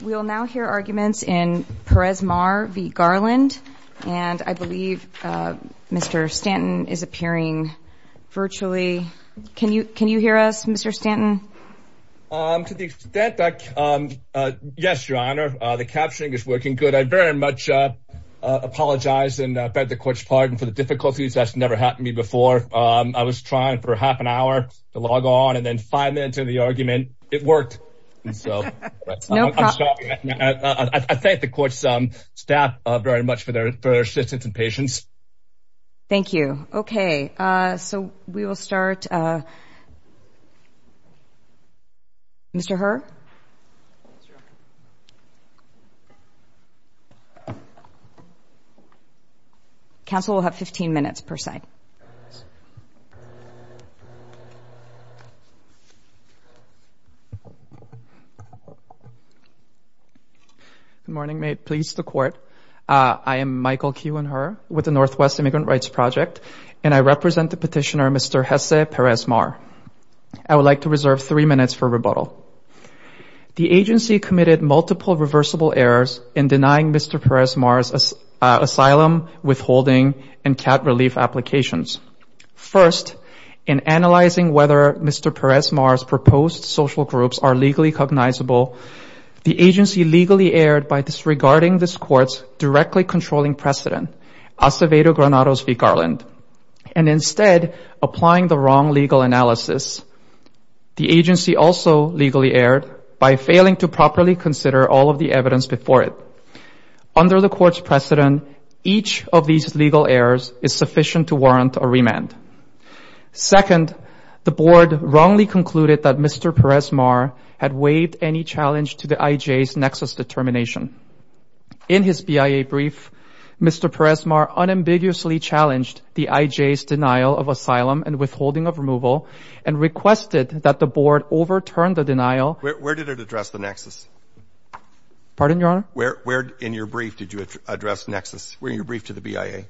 We will now hear arguments in Perez-Mar v. Garland, and I believe Mr. Stanton is appearing virtually. Can you hear us, Mr. Stanton? To the extent that, yes, your honor, the captioning is working good. I very much apologize and beg the court's pardon for the difficulties. That's never happened to me before. I was trying for half an hour to log on, and then five minutes of the argument, it worked. I thank the court's staff very much for their assistance and patience. Thank you. Okay, so we will start. Mr. Herr? Counsel will have 15 minutes per side. Good morning, may it please the court. I am Michael Kuehnherr with the Northwest Immigrant Rights Project, and I represent the petitioner, Mr. Jesse Perez-Mar. I would like to reserve three minutes for rebuttal. The agency committed multiple reversible errors in denying Mr. Perez-Mar's asylum, withholding, and cat relief applications. First, in analyzing whether Mr. Perez-Mar's proposed social groups are legally cognizable, the agency legally erred by disregarding this court's directly controlling precedent, Acevedo the wrong legal analysis. The agency also legally erred by failing to properly consider all of the evidence before it. Under the court's precedent, each of these legal errors is sufficient to warrant a remand. Second, the board wrongly concluded that Mr. Perez-Mar had waived any challenge to the IJ's nexus determination. In his BIA brief, Mr. Perez-Mar unambiguously challenged the IJ's denial of asylum and withholding of removal, and requested that the board overturn the denial. Where did it address the nexus? Pardon, Your Honor? In your brief, did you address nexus? Were you briefed to the BIA?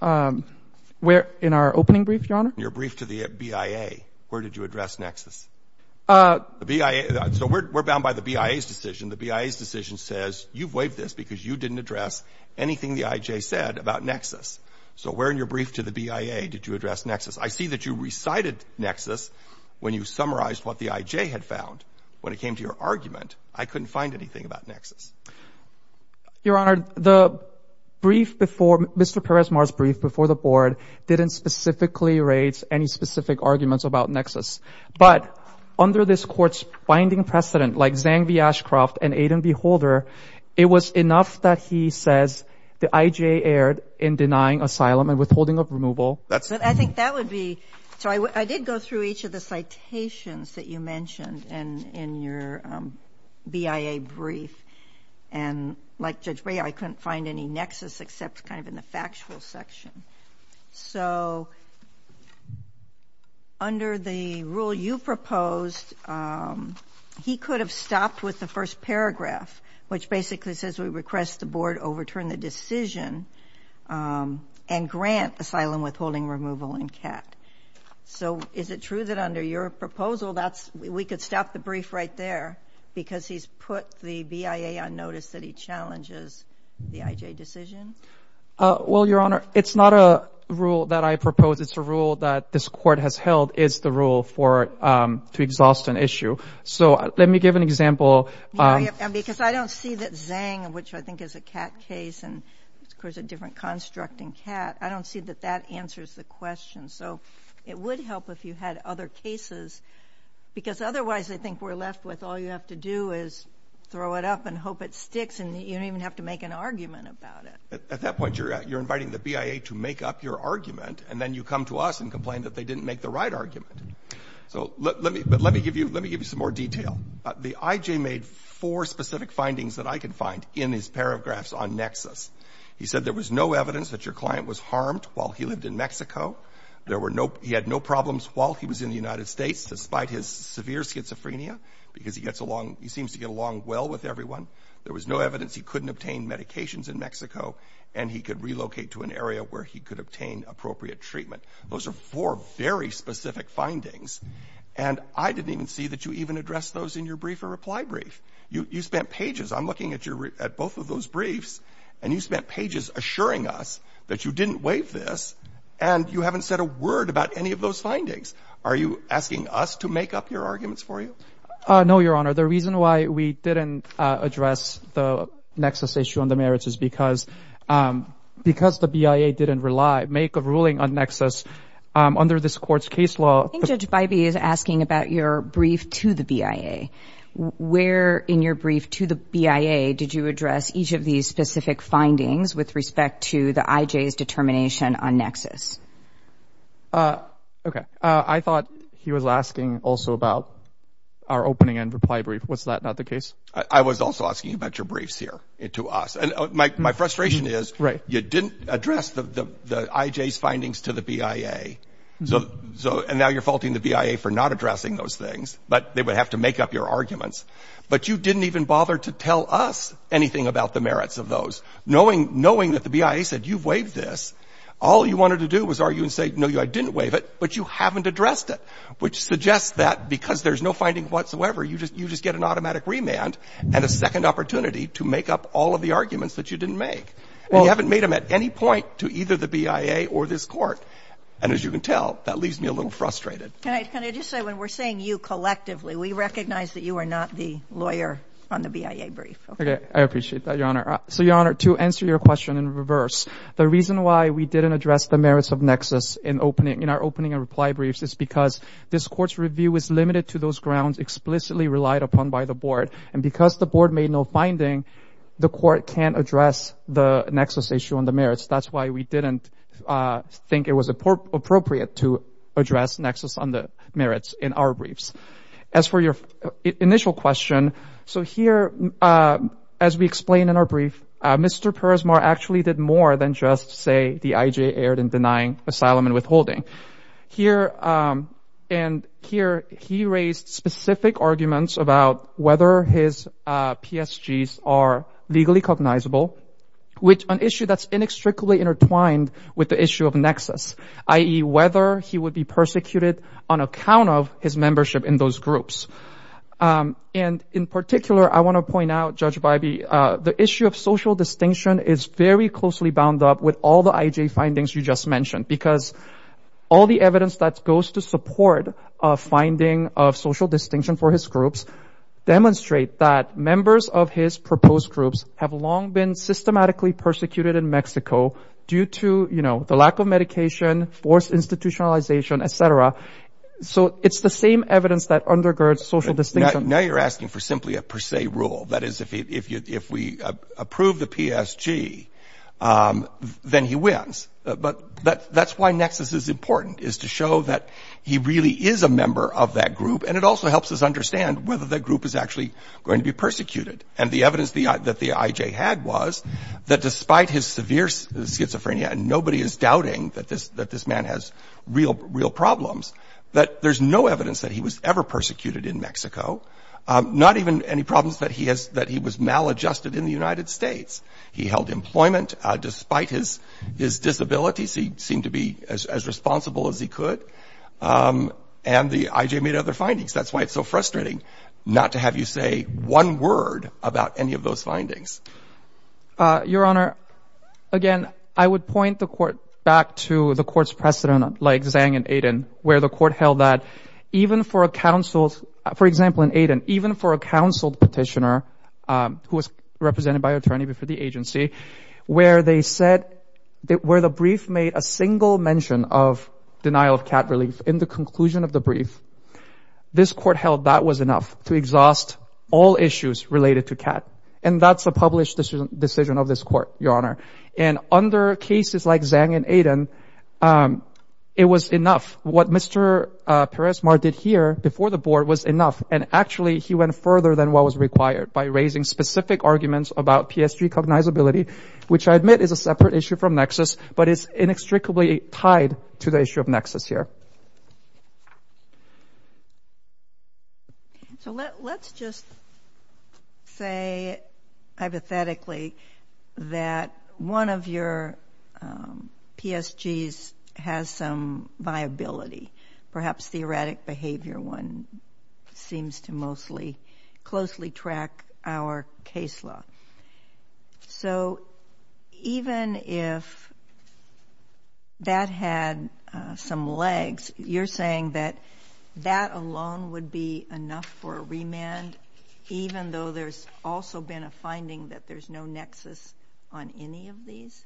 In our opening brief, Your Honor? Your brief to the BIA, where did you address nexus? The BIA, so we're bound by the BIA's decision, the BIA's decision says, you've waived this because you didn't address anything the IJ said about nexus. So where in your brief to the BIA did you address nexus? I see that you recited nexus when you summarized what the IJ had found. When it came to your argument, I couldn't find anything about nexus. Your Honor, the brief before, Mr. Perez-Mar's brief before the board didn't specifically raise any specific arguments about nexus. But under this Court's binding precedent, like Zhang v. Ashcroft and Aiden v. Holder, it was enough that he says the IJ erred in denying asylum and withholding of removal. I think that would be, so I did go through each of the citations that you mentioned in your BIA brief, and like Judge Breyer, I couldn't find any nexus except kind of in the factual section. So under the rule you proposed, he could have stopped with the first paragraph, which basically says we request the board overturn the decision and grant asylum withholding removal in CAT. So is it true that under your proposal, that's, we could stop the brief right there because he's put the BIA on notice that he challenges the IJ decision? Well, Your Honor, it's not a rule that I proposed. It's a rule that this Court has held is the rule for, to exhaust an issue. So let me give an example. Because I don't see that Zhang, which I think is a CAT case, and of course a different construct in CAT, I don't see that that answers the question. So it would help if you had other cases, because otherwise I think we're left with all you have to do is throw it up and hope it sticks, and you don't even have to make an argument about it. At that point, you're inviting the BIA to make up your argument, and then you come to us and complain that they didn't make the right argument. So let me, but let me give you, let me give you some more detail. The IJ made four specific findings that I could find in his paragraphs on nexus. He said there was no evidence that your client was harmed while he lived in Mexico. There were no, he had no problems while he was in the United States, despite his severe schizophrenia because he gets along, he seems to get along well with everyone. There was no evidence he couldn't obtain medications in Mexico, and he could relocate to an area where he could obtain appropriate treatment. Those are four very specific findings, and I didn't even see that you even addressed those in your brief or reply brief. You spent pages, I'm looking at your, at both of those briefs, and you spent pages assuring us that you didn't waive this, and you haven't said a word about any of those findings. Are you asking us to make up your arguments for you? No, Your Honor. The reason why we didn't address the nexus issue on the merits is because, because the BIA didn't rely, make a ruling on nexus under this court's case law. I think Judge Bybee is asking about your brief to the BIA. Where in your brief to the BIA did you address each of these specific findings with respect to the IJ's determination on nexus? Okay. I thought he was asking also about our opening and reply brief. Was that not the case? I was also asking about your briefs here to us. And my frustration is you didn't address the IJ's findings to the BIA, and now you're faulting the BIA for not addressing those things, but they would have to make up your arguments. But you didn't even bother to tell us anything about the merits of those, knowing that the BIA said, you've waived this. All you wanted to do was argue and say, no, I didn't waive it, but you haven't addressed it, which suggests that because there's no finding whatsoever, you just get an automatic remand and a second opportunity to make up all of the arguments that you didn't make. And you haven't made them at any point to either the BIA or this court. And as you can tell, that leaves me a little frustrated. Can I just say, when we're saying you collectively, we recognize that you are not the lawyer on Okay. I appreciate that, Your Honor. So, Your Honor, to answer your question in reverse, the reason why we didn't address the merits of nexus in our opening and reply briefs is because this court's review is limited to those grounds explicitly relied upon by the board. And because the board made no finding, the court can't address the nexus issue on the merits. That's why we didn't think it was appropriate to address nexus on the merits in our briefs. As for your initial question, so here, as we explain in our brief, Mr. Peresmar actually did more than just say the IJ erred in denying asylum and withholding. And here, he raised specific arguments about whether his PSGs are legally cognizable, which an issue that's inextricably intertwined with the issue of nexus, i.e., whether he would be persecuted on account of his membership in those groups. And in particular, I want to point out, Judge Bybee, the issue of social distinction is very closely bound up with all the IJ findings you just mentioned, because all the evidence that goes to support a finding of social distinction for his groups demonstrate that members of his proposed groups have long been systematically persecuted in Mexico due to, you know, the institutionalization, et cetera. So it's the same evidence that undergirds social distinction. Now you're asking for simply a per se rule. That is, if we approve the PSG, then he wins. But that's why nexus is important, is to show that he really is a member of that group. And it also helps us understand whether that group is actually going to be persecuted. And the evidence that the IJ had was that despite his severe schizophrenia, and nobody is doubting that this man has real problems, that there's no evidence that he was ever persecuted in Mexico, not even any problems that he was maladjusted in the United States. He held employment despite his disabilities. He seemed to be as responsible as he could. And the IJ made other findings. That's why it's so frustrating not to have you say one word about any of those findings. Your Honor, again, I would point the court back to the court's precedent, like Zhang and Aiden, where the court held that even for a counseled, for example, in Aiden, even for a counseled petitioner who was represented by an attorney before the agency, where they said that where the brief made a single mention of denial of CAT relief in the conclusion of the brief, this court held that was enough to exhaust all issues related to CAT. And that's a published decision of this court, Your Honor. And under cases like Zhang and Aiden, it was enough. What Mr. Perez-Mar did here before the board was enough. And actually, he went further than what was required by raising specific arguments about PSG cognizability, which I admit is a separate issue from Nexus, but it's inextricably tied to the issue of Nexus here. So, let's just say, hypothetically, that one of your PSGs has some viability, perhaps theoretic behavior one seems to mostly closely track our case law. So, even if that had some legs, you're saying that that alone would be enough for a remand, even though there's also been a finding that there's no Nexus on any of these?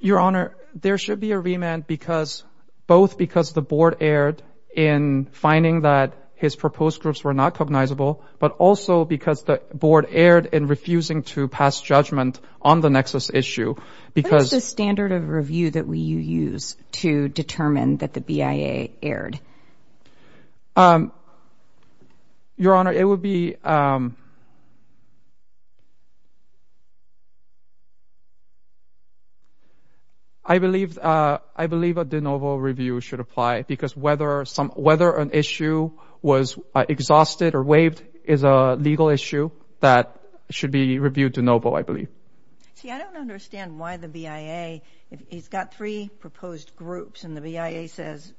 Your Honor, there should be a remand because, both because the board erred in finding that his proposed groups were not cognizable, but also because the board erred in refusing to pass judgment on the Nexus issue. What is the standard of review that you use to determine that the BIA erred? Your Honor, it would be... I believe a de novo review should apply because whether an issue was exhausted or waived is a legal issue that should be reviewed de novo, I believe. See, I don't understand why the BIA, he's got three proposed groups and the BIA says,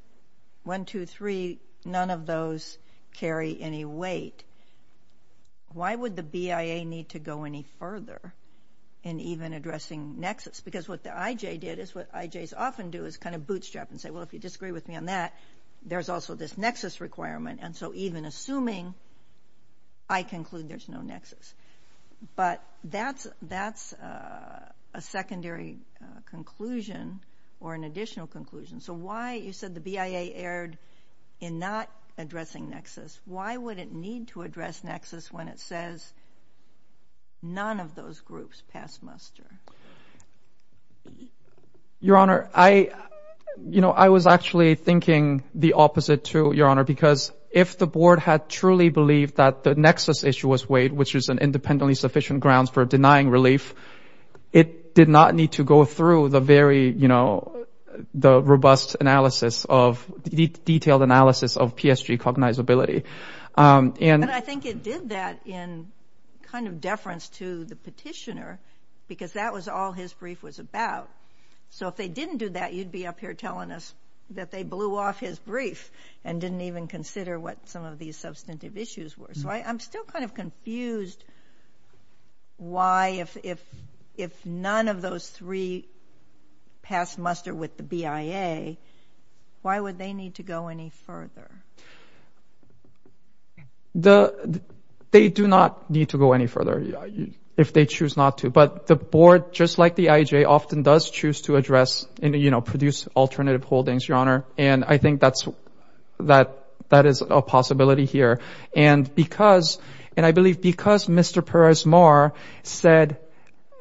one, two, three, none of those carry any weight. Why would the BIA need to go any further in even addressing Nexus? Because what the IJ did is what IJs often do is kind of bootstrap and say, well, if you disagree with me on that, there's also this Nexus requirement. And so, even assuming, I conclude there's no Nexus. But that's a secondary conclusion or an additional conclusion. So why, you said the BIA erred in not addressing Nexus. Why would it need to address Nexus when it says none of those groups pass muster? Your Honor, I, you know, I was actually thinking the opposite too, Your Honor, because if the board had truly believed that the Nexus issue was waived, which is an independently sufficient grounds for denying relief, it did not need to go through the very, you know, the robust analysis of, detailed analysis of PSG cognizability. And I think it did that in kind of deference to the petitioner because that was all his brief was about. So if they didn't do that, you'd be up here telling us that they blew off his brief and didn't even consider what some of these substantive issues were. So I'm still kind of confused why if none of those three pass muster with the BIA, why would they need to go any further? They do not need to go any further if they choose not to. But the board, just like the IEJ, often does choose to address, you know, produce alternative holdings, Your Honor. And I think that is a possibility here. And because, and I believe because Mr. Perez-Mar said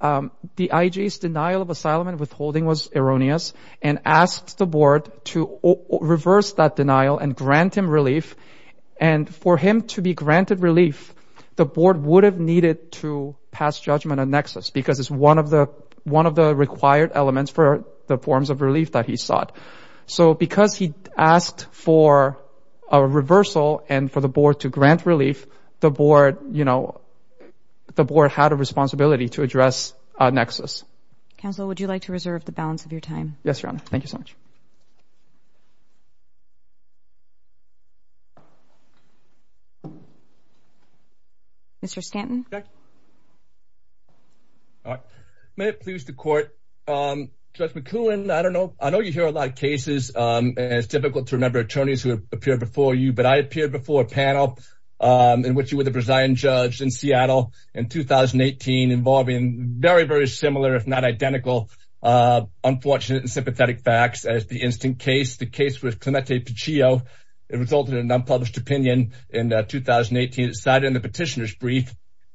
the IEJ's denial of asylum and withholding was erroneous and asked the board to reverse that denial and grant him relief, and for him to be granted relief, the board would have needed to pass judgment on Nexus because it's one of the required elements for the forms of relief that he sought. So because he asked for a reversal and for the board to grant relief, the board, you know, the board had a responsibility to address Nexus. Counsel, would you like to reserve the balance of your time? Yes, Your Honor. Thank you so much. Mr. Stanton? May it please the Court. Judge McEwen, I don't know, I know you hear a lot of cases, and it's difficult to remember attorneys who have appeared before you, but I appeared before a panel in which you were the Brazilian judge in Seattle in 2018, involving very, very similar, if not identical, unfortunate and sympathetic facts as the instant case. The case was Clemente Pichio. It resulted in an unpublished opinion in 2018. It sat in the petitioner's brief.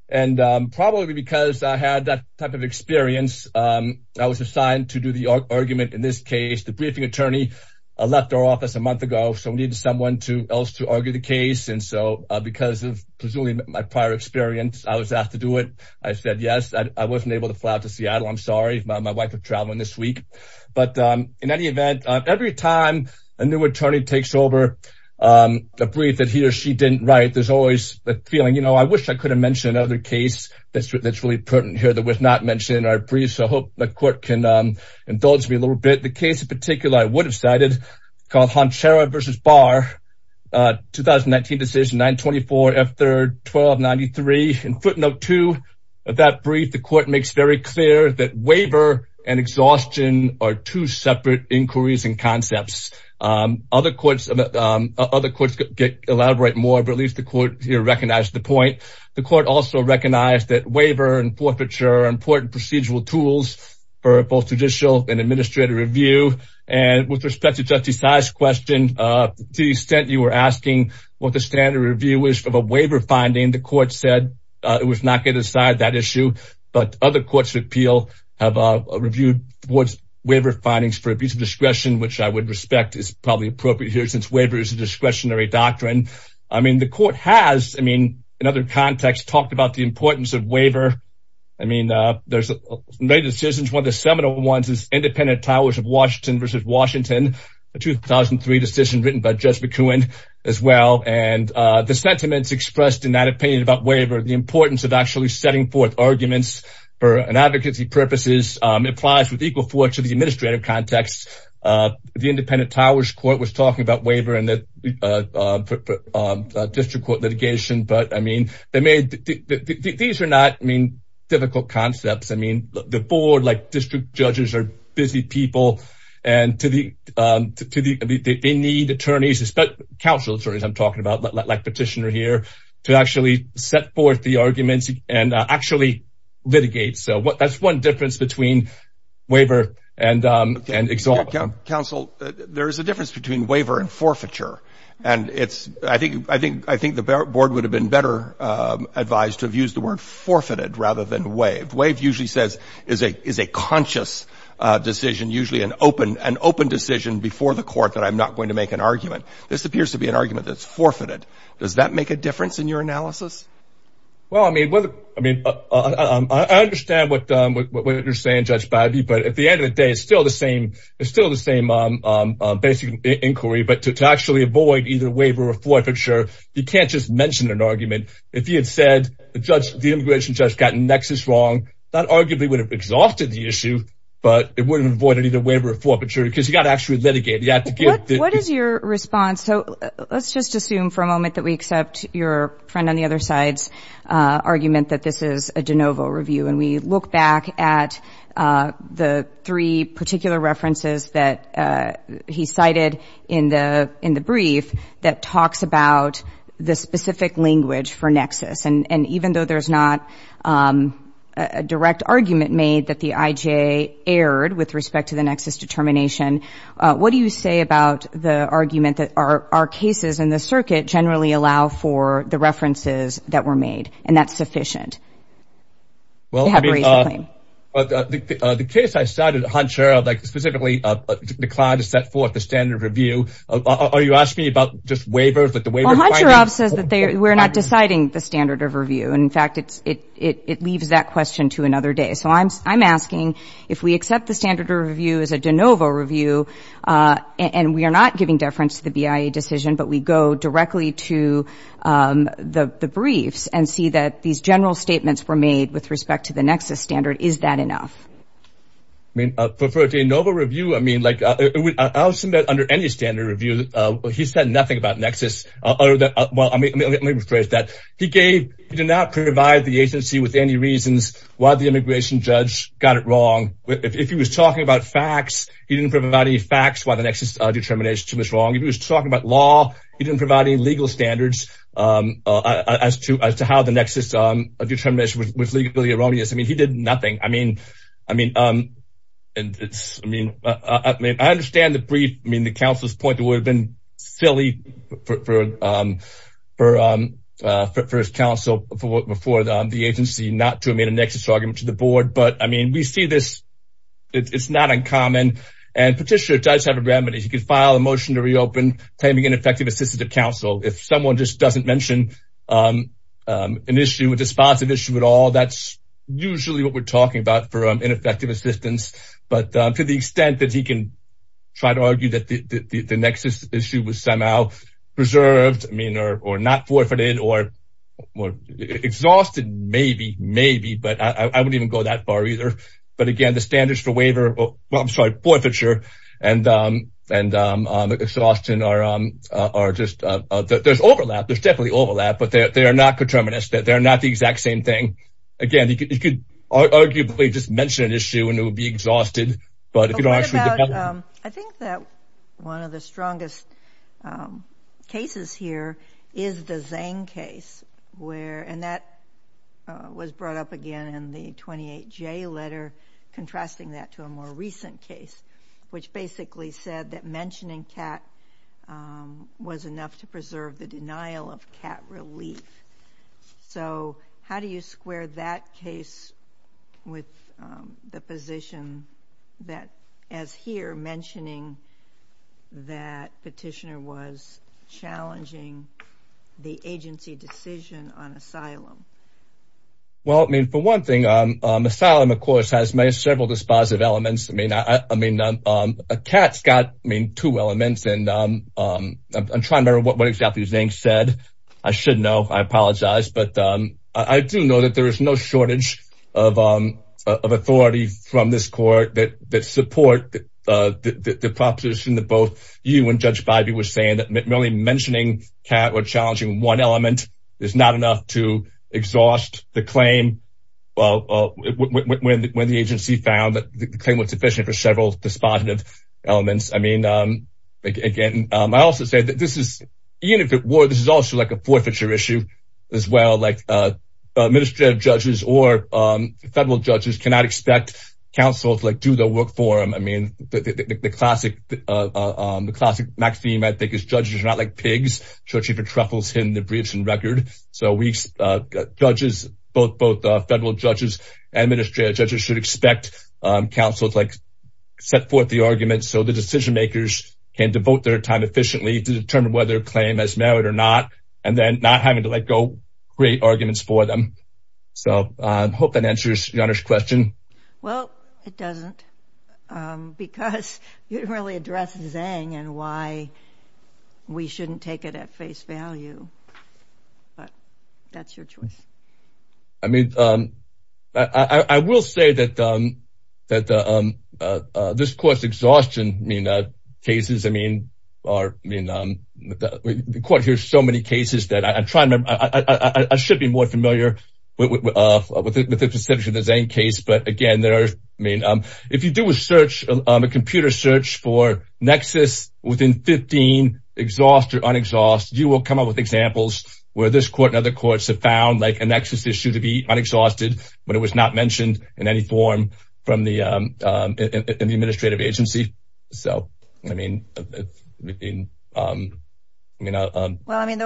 And probably because I had that type of experience, I was assigned to do the argument in this case. The briefing attorney left our office a month ago, so we needed someone else to argue the case. And so because of, presumably, my prior experience, I was asked to do it. I said yes. I wasn't able to fly out to Seattle. I'm sorry. My wife is traveling this week. But in any event, every time a new attorney takes over a brief that he or she didn't write, there's always a feeling, you know, I wish I could have mentioned another case that's really pertinent here that was not mentioned in our brief. So I hope the court can indulge me a little bit. The case in particular I would have cited, called Honchara v. Barr, 2019 decision 924F31293. In footnote 2 of that brief, the court makes very clear that waiver and exhaustion are two separate inquiries and concepts. Other courts elaborate more, but at least the court here recognized the point. The court also recognized that waiver and forfeiture are important procedural tools for both judicial and administrative review. And with respect to Justice Saez's question, to the extent you were asking what the standard review is of a waiver finding, the court said it was not going to decide that issue. But other courts of appeal have reviewed the board's waiver findings for abuse of discretion, which I would respect is probably appropriate here since waiver is a discretionary doctrine. I mean, the court has, I mean, in other contexts talked about the importance of waiver. I mean, there's many decisions. One of the seminal ones is Independent Towers of Washington v. Washington, a 2003 decision written by Judge McEwen as well. And the sentiments expressed in that opinion about waiver, the importance of actually setting forth arguments for an advocacy purposes applies with equal force to the administrative context. The Independent Towers Court was talking about waiver and the district court litigation. But, I mean, they made these are not, I mean, difficult concepts. I mean, the board, like district judges, are busy people. And they need attorneys, especially counsel attorneys I'm talking about, like petitioner here, to actually set forth the arguments and actually litigate. So that's one difference between waiver and exalt. Counsel, there is a difference between waiver and forfeiture. And it's, I think the board would have been better advised to have used the word forfeited rather than waived. Waived usually says is a conscious decision, usually an open decision before the court that I'm not going to make an argument. This appears to be an argument that's forfeited. Does that make a difference in your analysis? Well, I mean, I understand what you're saying, Judge Bidey. But at the end of the day, it's still the same. It's still the same basic inquiry. But to actually avoid either waiver or forfeiture, you can't just mention an argument. If you had said the immigration judge got nexus wrong, that arguably would have exalted the issue. But it wouldn't have avoided either waiver or forfeiture because you got to actually litigate. What is your response? So let's just assume for a moment that we accept your friend on the other side's argument that this is a de novo review. And we look back at the three particular references that he cited in the brief that talks about the specific language for nexus. And even though there's not a direct argument made that the IJ erred with respect to the nexus determination, what do you say about the argument that our cases in the circuit generally allow for the references that were made, and that's sufficient? Well, I mean, the case I cited, Huncher, specifically declined to set forth the standard of review. Are you asking me about just waivers? Well, Huncherov says that we're not deciding the standard of review. In fact, it leaves that question to another day. So I'm asking if we accept the standard of review as a de novo review, and we are not giving deference to the BIA decision, but we go directly to the briefs and see that these general statements were made with respect to the nexus standard, is that enough? I mean, for a de novo review, I mean, like I'll submit under any standard review, he said nothing about nexus. Let me rephrase that. He did not provide the agency with any reasons why the immigration judge got it wrong. If he was talking about facts, he didn't provide any facts why the nexus determination was wrong. If he was talking about law, he didn't provide any legal standards as to how the nexus determination was legally wrong. I mean, he did nothing. I mean, I understand the brief. I mean, the counsel's point would have been silly for his counsel before the agency not to have made a nexus argument to the board. But, I mean, we see this. It's not uncommon. And Petitioner does have a remedy. He could file a motion to reopen, claiming ineffective assistance of counsel. If someone just doesn't mention an issue, a responsive issue at all, that's usually what we're talking about for ineffective assistance. But to the extent that he can try to argue that the nexus issue was somehow preserved, I mean, or not forfeited or exhausted, maybe, maybe. But I wouldn't even go that far either. But, again, the standards for waiver, well, I'm sorry, forfeiture and exhaustion are just, there's overlap. There's definitely overlap. But they are not determinants. They're not the exact same thing. Again, he could arguably just mention an issue and it would be exhausted. But if you don't actually develop it. I think that one of the strongest cases here is the Zhang case. And that was brought up again in the 28J letter, contrasting that to a more recent case, which basically said that mentioning CAT was enough to preserve the denial of CAT relief. So how do you square that case with the position that, as here, mentioning that petitioner was challenging the agency decision on asylum? Well, I mean, for one thing, asylum, of course, has several dispositive elements. I mean, CAT's got, I mean, two elements. And I'm trying to remember what exactly Zhang said. I should know. I apologize. But I do know that there is no shortage of authority from this court that support the proposition that both you and Judge Bybee were saying that merely mentioning CAT or challenging one element is not enough to exhaust the claim. Well, when the agency found that the claim was sufficient for several dispositive elements. I mean, again, I also say that this is, even if it were, this is also like a forfeiture issue as well. Like, administrative judges or federal judges cannot expect counsel to do the work for them. I mean, the classic maxim, I think, is judges are not like pigs. Churchie Betruffel's hidden the briefs and record. So judges, both federal judges and administrative judges, should expect counsel to set forth the argument. So the decision makers can devote their time efficiently to determine whether a claim is merit or not. And then not having to let go, create arguments for them. So I hope that answers your question. Well, it doesn't. Because you didn't really address Zhang and why we shouldn't take it at face value. But that's your choice. I mean, I will say that this court's exhaustion cases, I mean, the court hears so many cases that I'm trying to, I should be more familiar with the specifics of the Zhang case. But, again, there are, I mean, if you do a search, a computer search for nexus within 15, exhaust or unexhaust, you will come up with examples where this court and other courts have found, like, a nexus issue to be unexhausted, but it was not mentioned in any form from the administrative agency. So, I mean, I mean. Well, I mean, the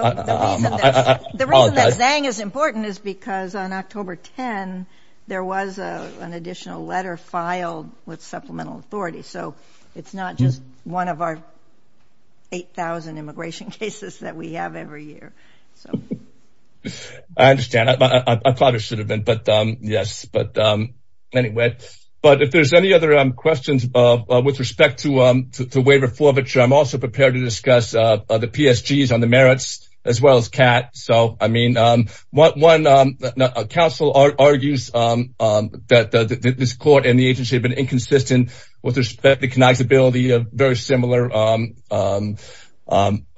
reason that Zhang is important is because on October 10, there was an additional letter filed with supplemental authority. So it's not just one of our 8,000 immigration cases that we have every year. So. I understand. I probably should have been. But, yes. Anyway. But if there's any other questions with respect to waiver forfeiture, I'm also prepared to discuss the PSGs on the merits as well as CAT. So, I mean, one counsel argues that this court and the agency have been inconsistent with respect to connectability of very similar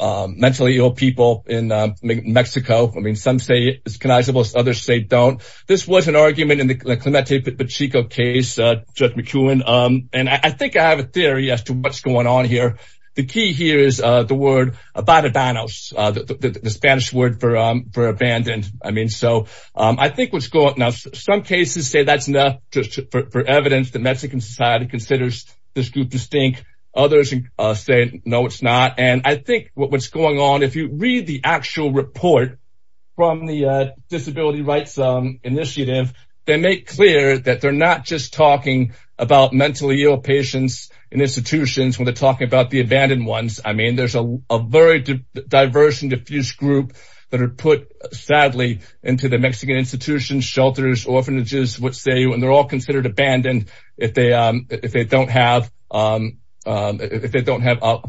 mentally ill people in Mexico. I mean, some say it's connectable. Others say don't. This was an argument in the Clemente Pacheco case, Judge McEwen. And I think I have a theory as to what's going on here. The key here is the word abandonos, the Spanish word for abandoned. I mean, so I think what's going on. Now, some cases say that's not just for evidence that Mexican society considers this group distinct. Others say, no, it's not. And I think what's going on, if you read the actual report from the Disability Rights Initiative, they make clear that they're not just talking about mentally ill patients in institutions when they're talking about the abandoned ones. I mean, there's a very diverse and diffuse group that are put, sadly, into the Mexican institutions, shelters, orphanages, which they're all considered abandoned if they don't have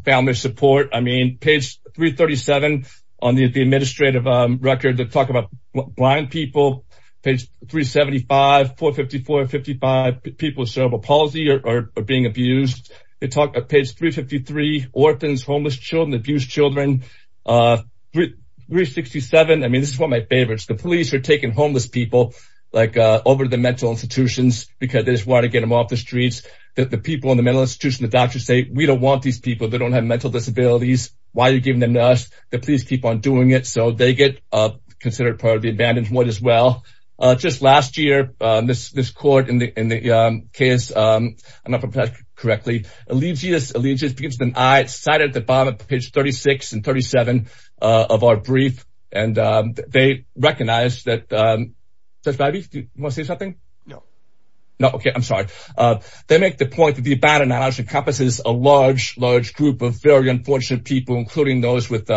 family support. I mean, page 337 on the administrative record, they talk about blind people. Page 375, 454 and 55, people with cerebral palsy are being abused. Page 353, orphans, homeless children, abused children. 367, I mean, this is one of my favorites. The police are taking homeless people over to the mental institutions because they just want to get them off the streets. The people in the mental institutions, the doctors say, we don't want these people. They don't have mental disabilities. Why are you giving them to us? The police keep on doing it. So they get considered part of the abandoned one as well. Just last year, this court in the case, I don't know if I'm pronouncing it correctly. Allegiance begins with an I. It's cited at the bottom of page 36 and 37 of our brief. And they recognize that, Judge Babi, do you want to say something? No. No, okay, I'm sorry. They make the point that the abandonment encompasses a large, large group of very unfortunate people, including those with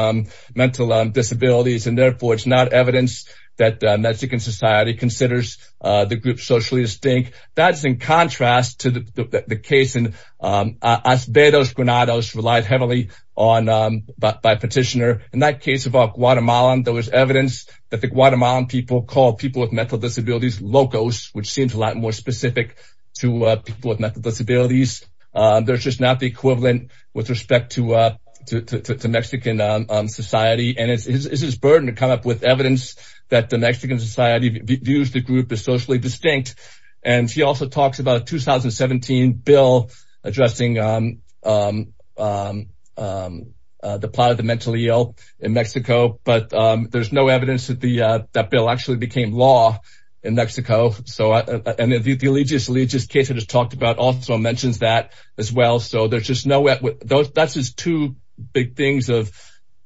mental disabilities. And therefore, it's not evidence that Mexican society considers the group socially distinct. That's in contrast to the case in Asbertos Granados relied heavily on by petitioner. In that case of our Guatemalan, there was evidence that the Guatemalan people call people with mental disabilities locos, which seems a lot more specific to people with mental disabilities. There's just not the equivalent with respect to Mexican society. And it's his burden to come up with evidence that the Mexican society views the group as socially distinct. And he also talks about a 2017 bill addressing the plight of the mentally ill in Mexico. But there's no evidence that that bill actually became law in Mexico. And the Allegius Allegius case I just talked about also mentions that as well. So that's just two big things of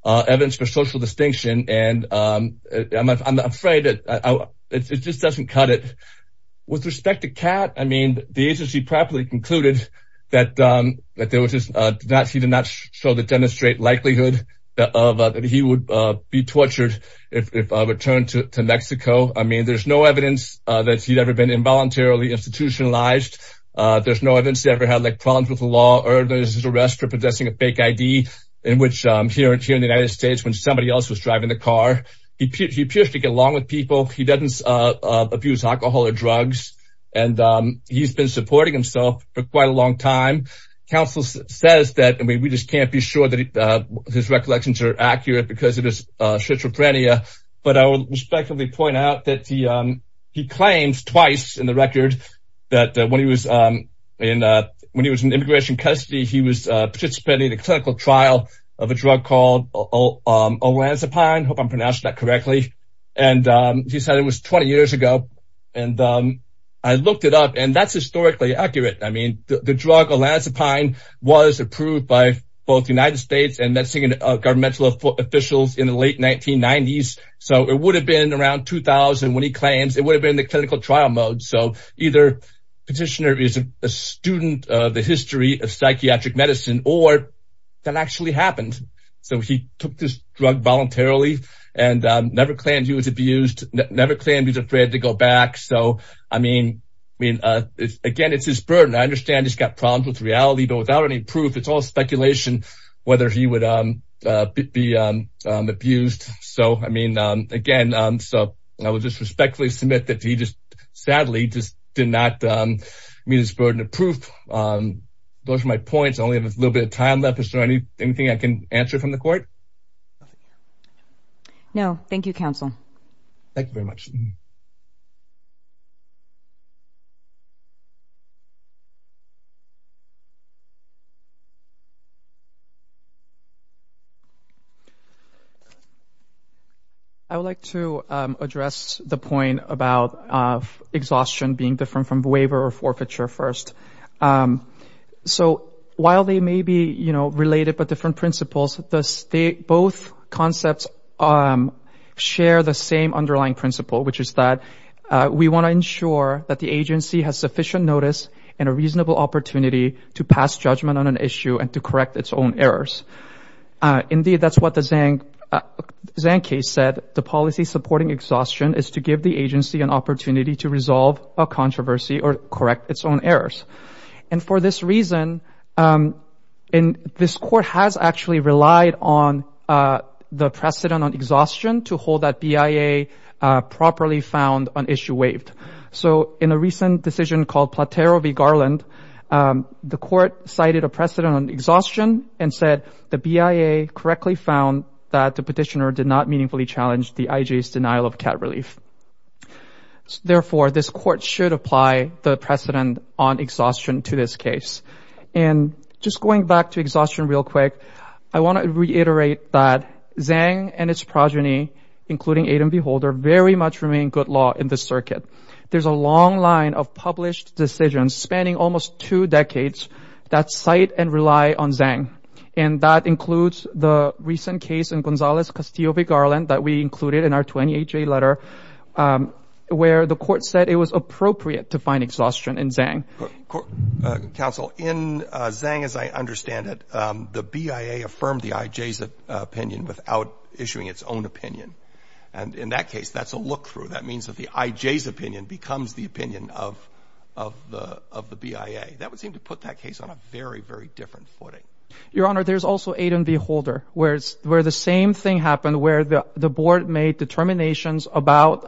evidence for social distinction. And I'm afraid that it just doesn't cut it with respect to cat. I mean, the agency properly concluded that that there was just that he did not show the demonstrate likelihood of that he would be tortured if returned to Mexico. I mean, there's no evidence that he'd ever been involuntarily institutionalized. There's no evidence he ever had like problems with the law or there's his arrest for possessing a fake I.D. in which here in the United States when somebody else was driving the car, he appears to get along with people. He doesn't abuse alcohol or drugs. And he's been supporting himself for quite a long time. Counsel says that we just can't be sure that his recollections are accurate because of his schizophrenia. But I would respectfully point out that he he claims twice in the record that when he was in when he was in immigration custody, he was participating in a clinical trial of a drug called Olanzapine. Hope I'm pronouncing that correctly. And he said it was 20 years ago. And I looked it up and that's historically accurate. I mean, the drug Olanzapine was approved by both United States and Mexican governmental officials in the late 1990s. So it would have been around 2000 when he claims it would have been the clinical trial mode. So either petitioner is a student of the history of psychiatric medicine or that actually happened. So he took this drug voluntarily and never claimed he was abused, never claimed he's afraid to go back. So, I mean, I mean, again, it's his burden. I understand he's got problems with reality, but without any proof, it's all speculation whether he would be abused. So, I mean, again, so I would just respectfully submit that he just sadly just did not meet his burden of proof. Those are my points. I only have a little bit of time left. Is there anything I can answer from the court? No. Thank you, counsel. Thank you very much. Thank you. I would like to address the point about exhaustion being different from waiver or forfeiture first. So while they may be, you know, related but different principles, both concepts share the same underlying principle, which is that we want to ensure that the agency has sufficient notice and a reasonable opportunity to pass judgment on an issue and to correct its own errors. Indeed, that's what the Zhang case said. The policy supporting exhaustion is to give the agency an opportunity to resolve a controversy or correct its own errors. And for this reason, this court has actually relied on the precedent on exhaustion to hold that BIA properly found on issue waived. So in a recent decision called Platero v. Garland, the court cited a precedent on exhaustion and said, the BIA correctly found that the petitioner did not meaningfully challenge the IJ's denial of cat relief. Therefore, this court should apply the precedent on exhaustion to this case. And just going back to exhaustion real quick, I want to reiterate that Zhang and its progeny, including Adam Beholder, very much remain good law in this circuit. There's a long line of published decisions spanning almost two decades that cite and rely on Zhang. And that includes the recent case in Gonzalez v. Garland that we included in our 28-J letter, where the court said it was appropriate to find exhaustion in Zhang. Counsel, in Zhang, as I understand it, the BIA affirmed the IJ's opinion without issuing its own opinion. And in that case, that's a look through. That means that the IJ's opinion becomes the opinion of the BIA. That would seem to put that case on a very, very different footing. Your Honor, there's also Adam Beholder, where the same thing happened, where the board made determinations about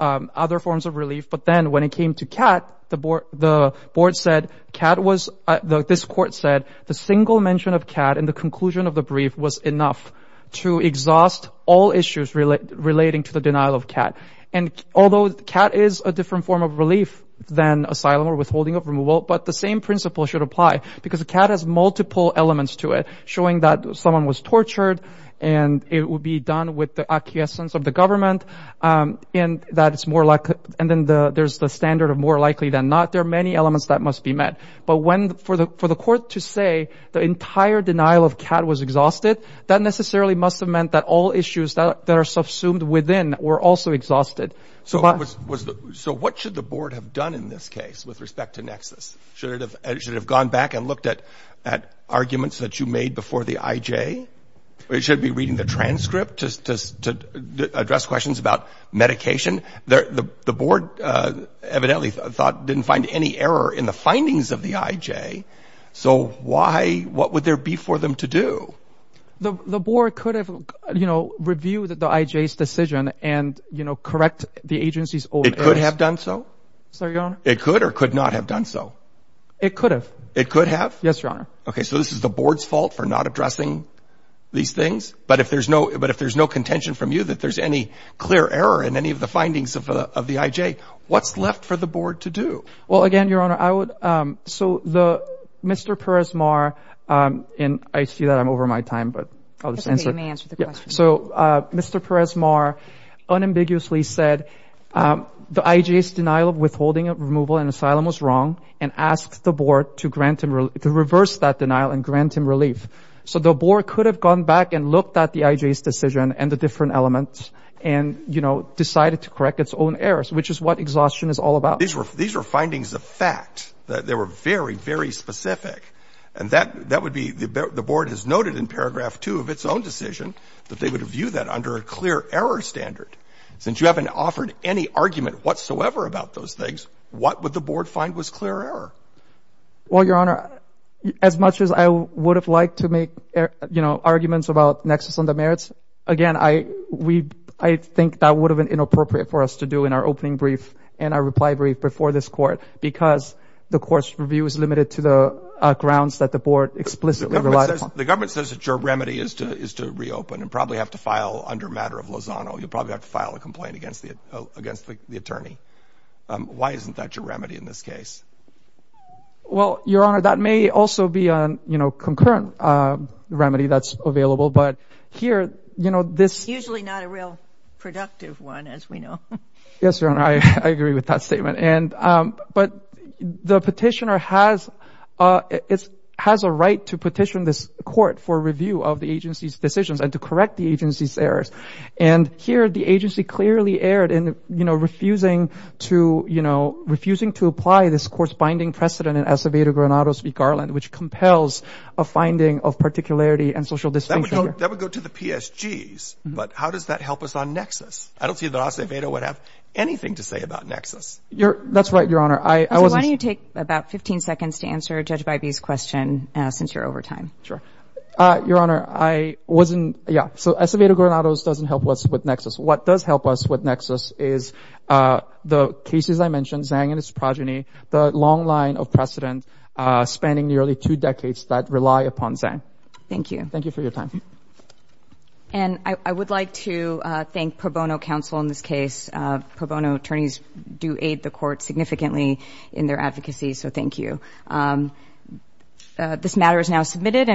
other forms of relief. But then when it came to cat, the board said, this court said, the single mention of cat in the conclusion of the brief was enough to exhaust all issues relating to the denial of cat. And although cat is a different form of relief than asylum or withholding of removal, but the same principle should apply because the cat has multiple elements to it, showing that someone was tortured and it would be done with the acquiescence of the government. And that it's more likely. And then there's the standard of more likely than not. There are many elements that must be met. But for the court to say the entire denial of cat was exhausted, that necessarily must have meant that all issues that are subsumed within were also exhausted. So what should the board have done in this case with respect to Nexus? Should it have gone back and looked at at arguments that you made before the IJ? It should be reading the transcript to address questions about medication. The board evidently thought didn't find any error in the findings of the IJ. So why what would there be for them to do? The board could have, you know, review the IJ's decision and, you know, correct the agency's. It could have done so. So it could or could not have done so. It could have. It could have. Yes, your honor. OK, so this is the board's fault for not addressing these things. But if there's no but if there's no contention from you that there's any clear error in any of the findings of the IJ, what's left for the board to do? Well, again, your honor, I would. So the Mr. Peres-Mar and I see that I'm over my time, but I'll just answer the question. So Mr. Peres-Mar unambiguously said the IJ's denial of withholding removal and asylum was wrong and asked the board to grant him to reverse that denial and grant him relief. So the board could have gone back and looked at the IJ's decision and the different elements and, you know, decided to correct its own errors, which is what exhaustion is all about. These were these were findings of fact that they were very, very specific. And that that would be the board has noted in paragraph two of its own decision that they would view that under a clear error standard. Since you haven't offered any argument whatsoever about those things, what would the board find was clear error? Well, your honor, as much as I would have liked to make, you know, arguments about nexus on the merits. Again, I we I think that would have been inappropriate for us to do in our opening brief and our reply brief before this court, because the court's review is limited to the grounds that the board explicitly relies on. The government says that your remedy is to is to reopen and probably have to file under matter of Lozano. You probably have to file a complaint against the against the attorney. Why isn't that your remedy in this case? Well, your honor, that may also be on, you know, concurrent remedy that's available. But here, you know, this usually not a real productive one, as we know. Yes, your honor. I agree with that statement. And but the petitioner has it has a right to petition this court for review of the agency's decisions and to correct the agency's errors. And here the agency clearly erred in, you know, refusing to, you know, refusing to apply this course binding precedent in Acevedo-Granados v. Garland, which compels a finding of particularity and social distinction. That would go to the PSGs. But how does that help us on nexus? I don't see that Acevedo would have anything to say about nexus. You're that's right, your honor. I wasn't. Why don't you take about 15 seconds to answer Judge Bybee's question since you're over time? Sure. Your honor, I wasn't. Yeah. So Acevedo-Granados doesn't help us with nexus. What does help us with nexus is the cases I mentioned, Zhang and his progeny, the long line of precedent spanning nearly two decades that rely upon Zhang. Thank you. Thank you for your time. And I would like to thank Pro Bono counsel in this case. Pro Bono attorneys do aid the court significantly in their advocacy. So thank you. This matter is now submitted.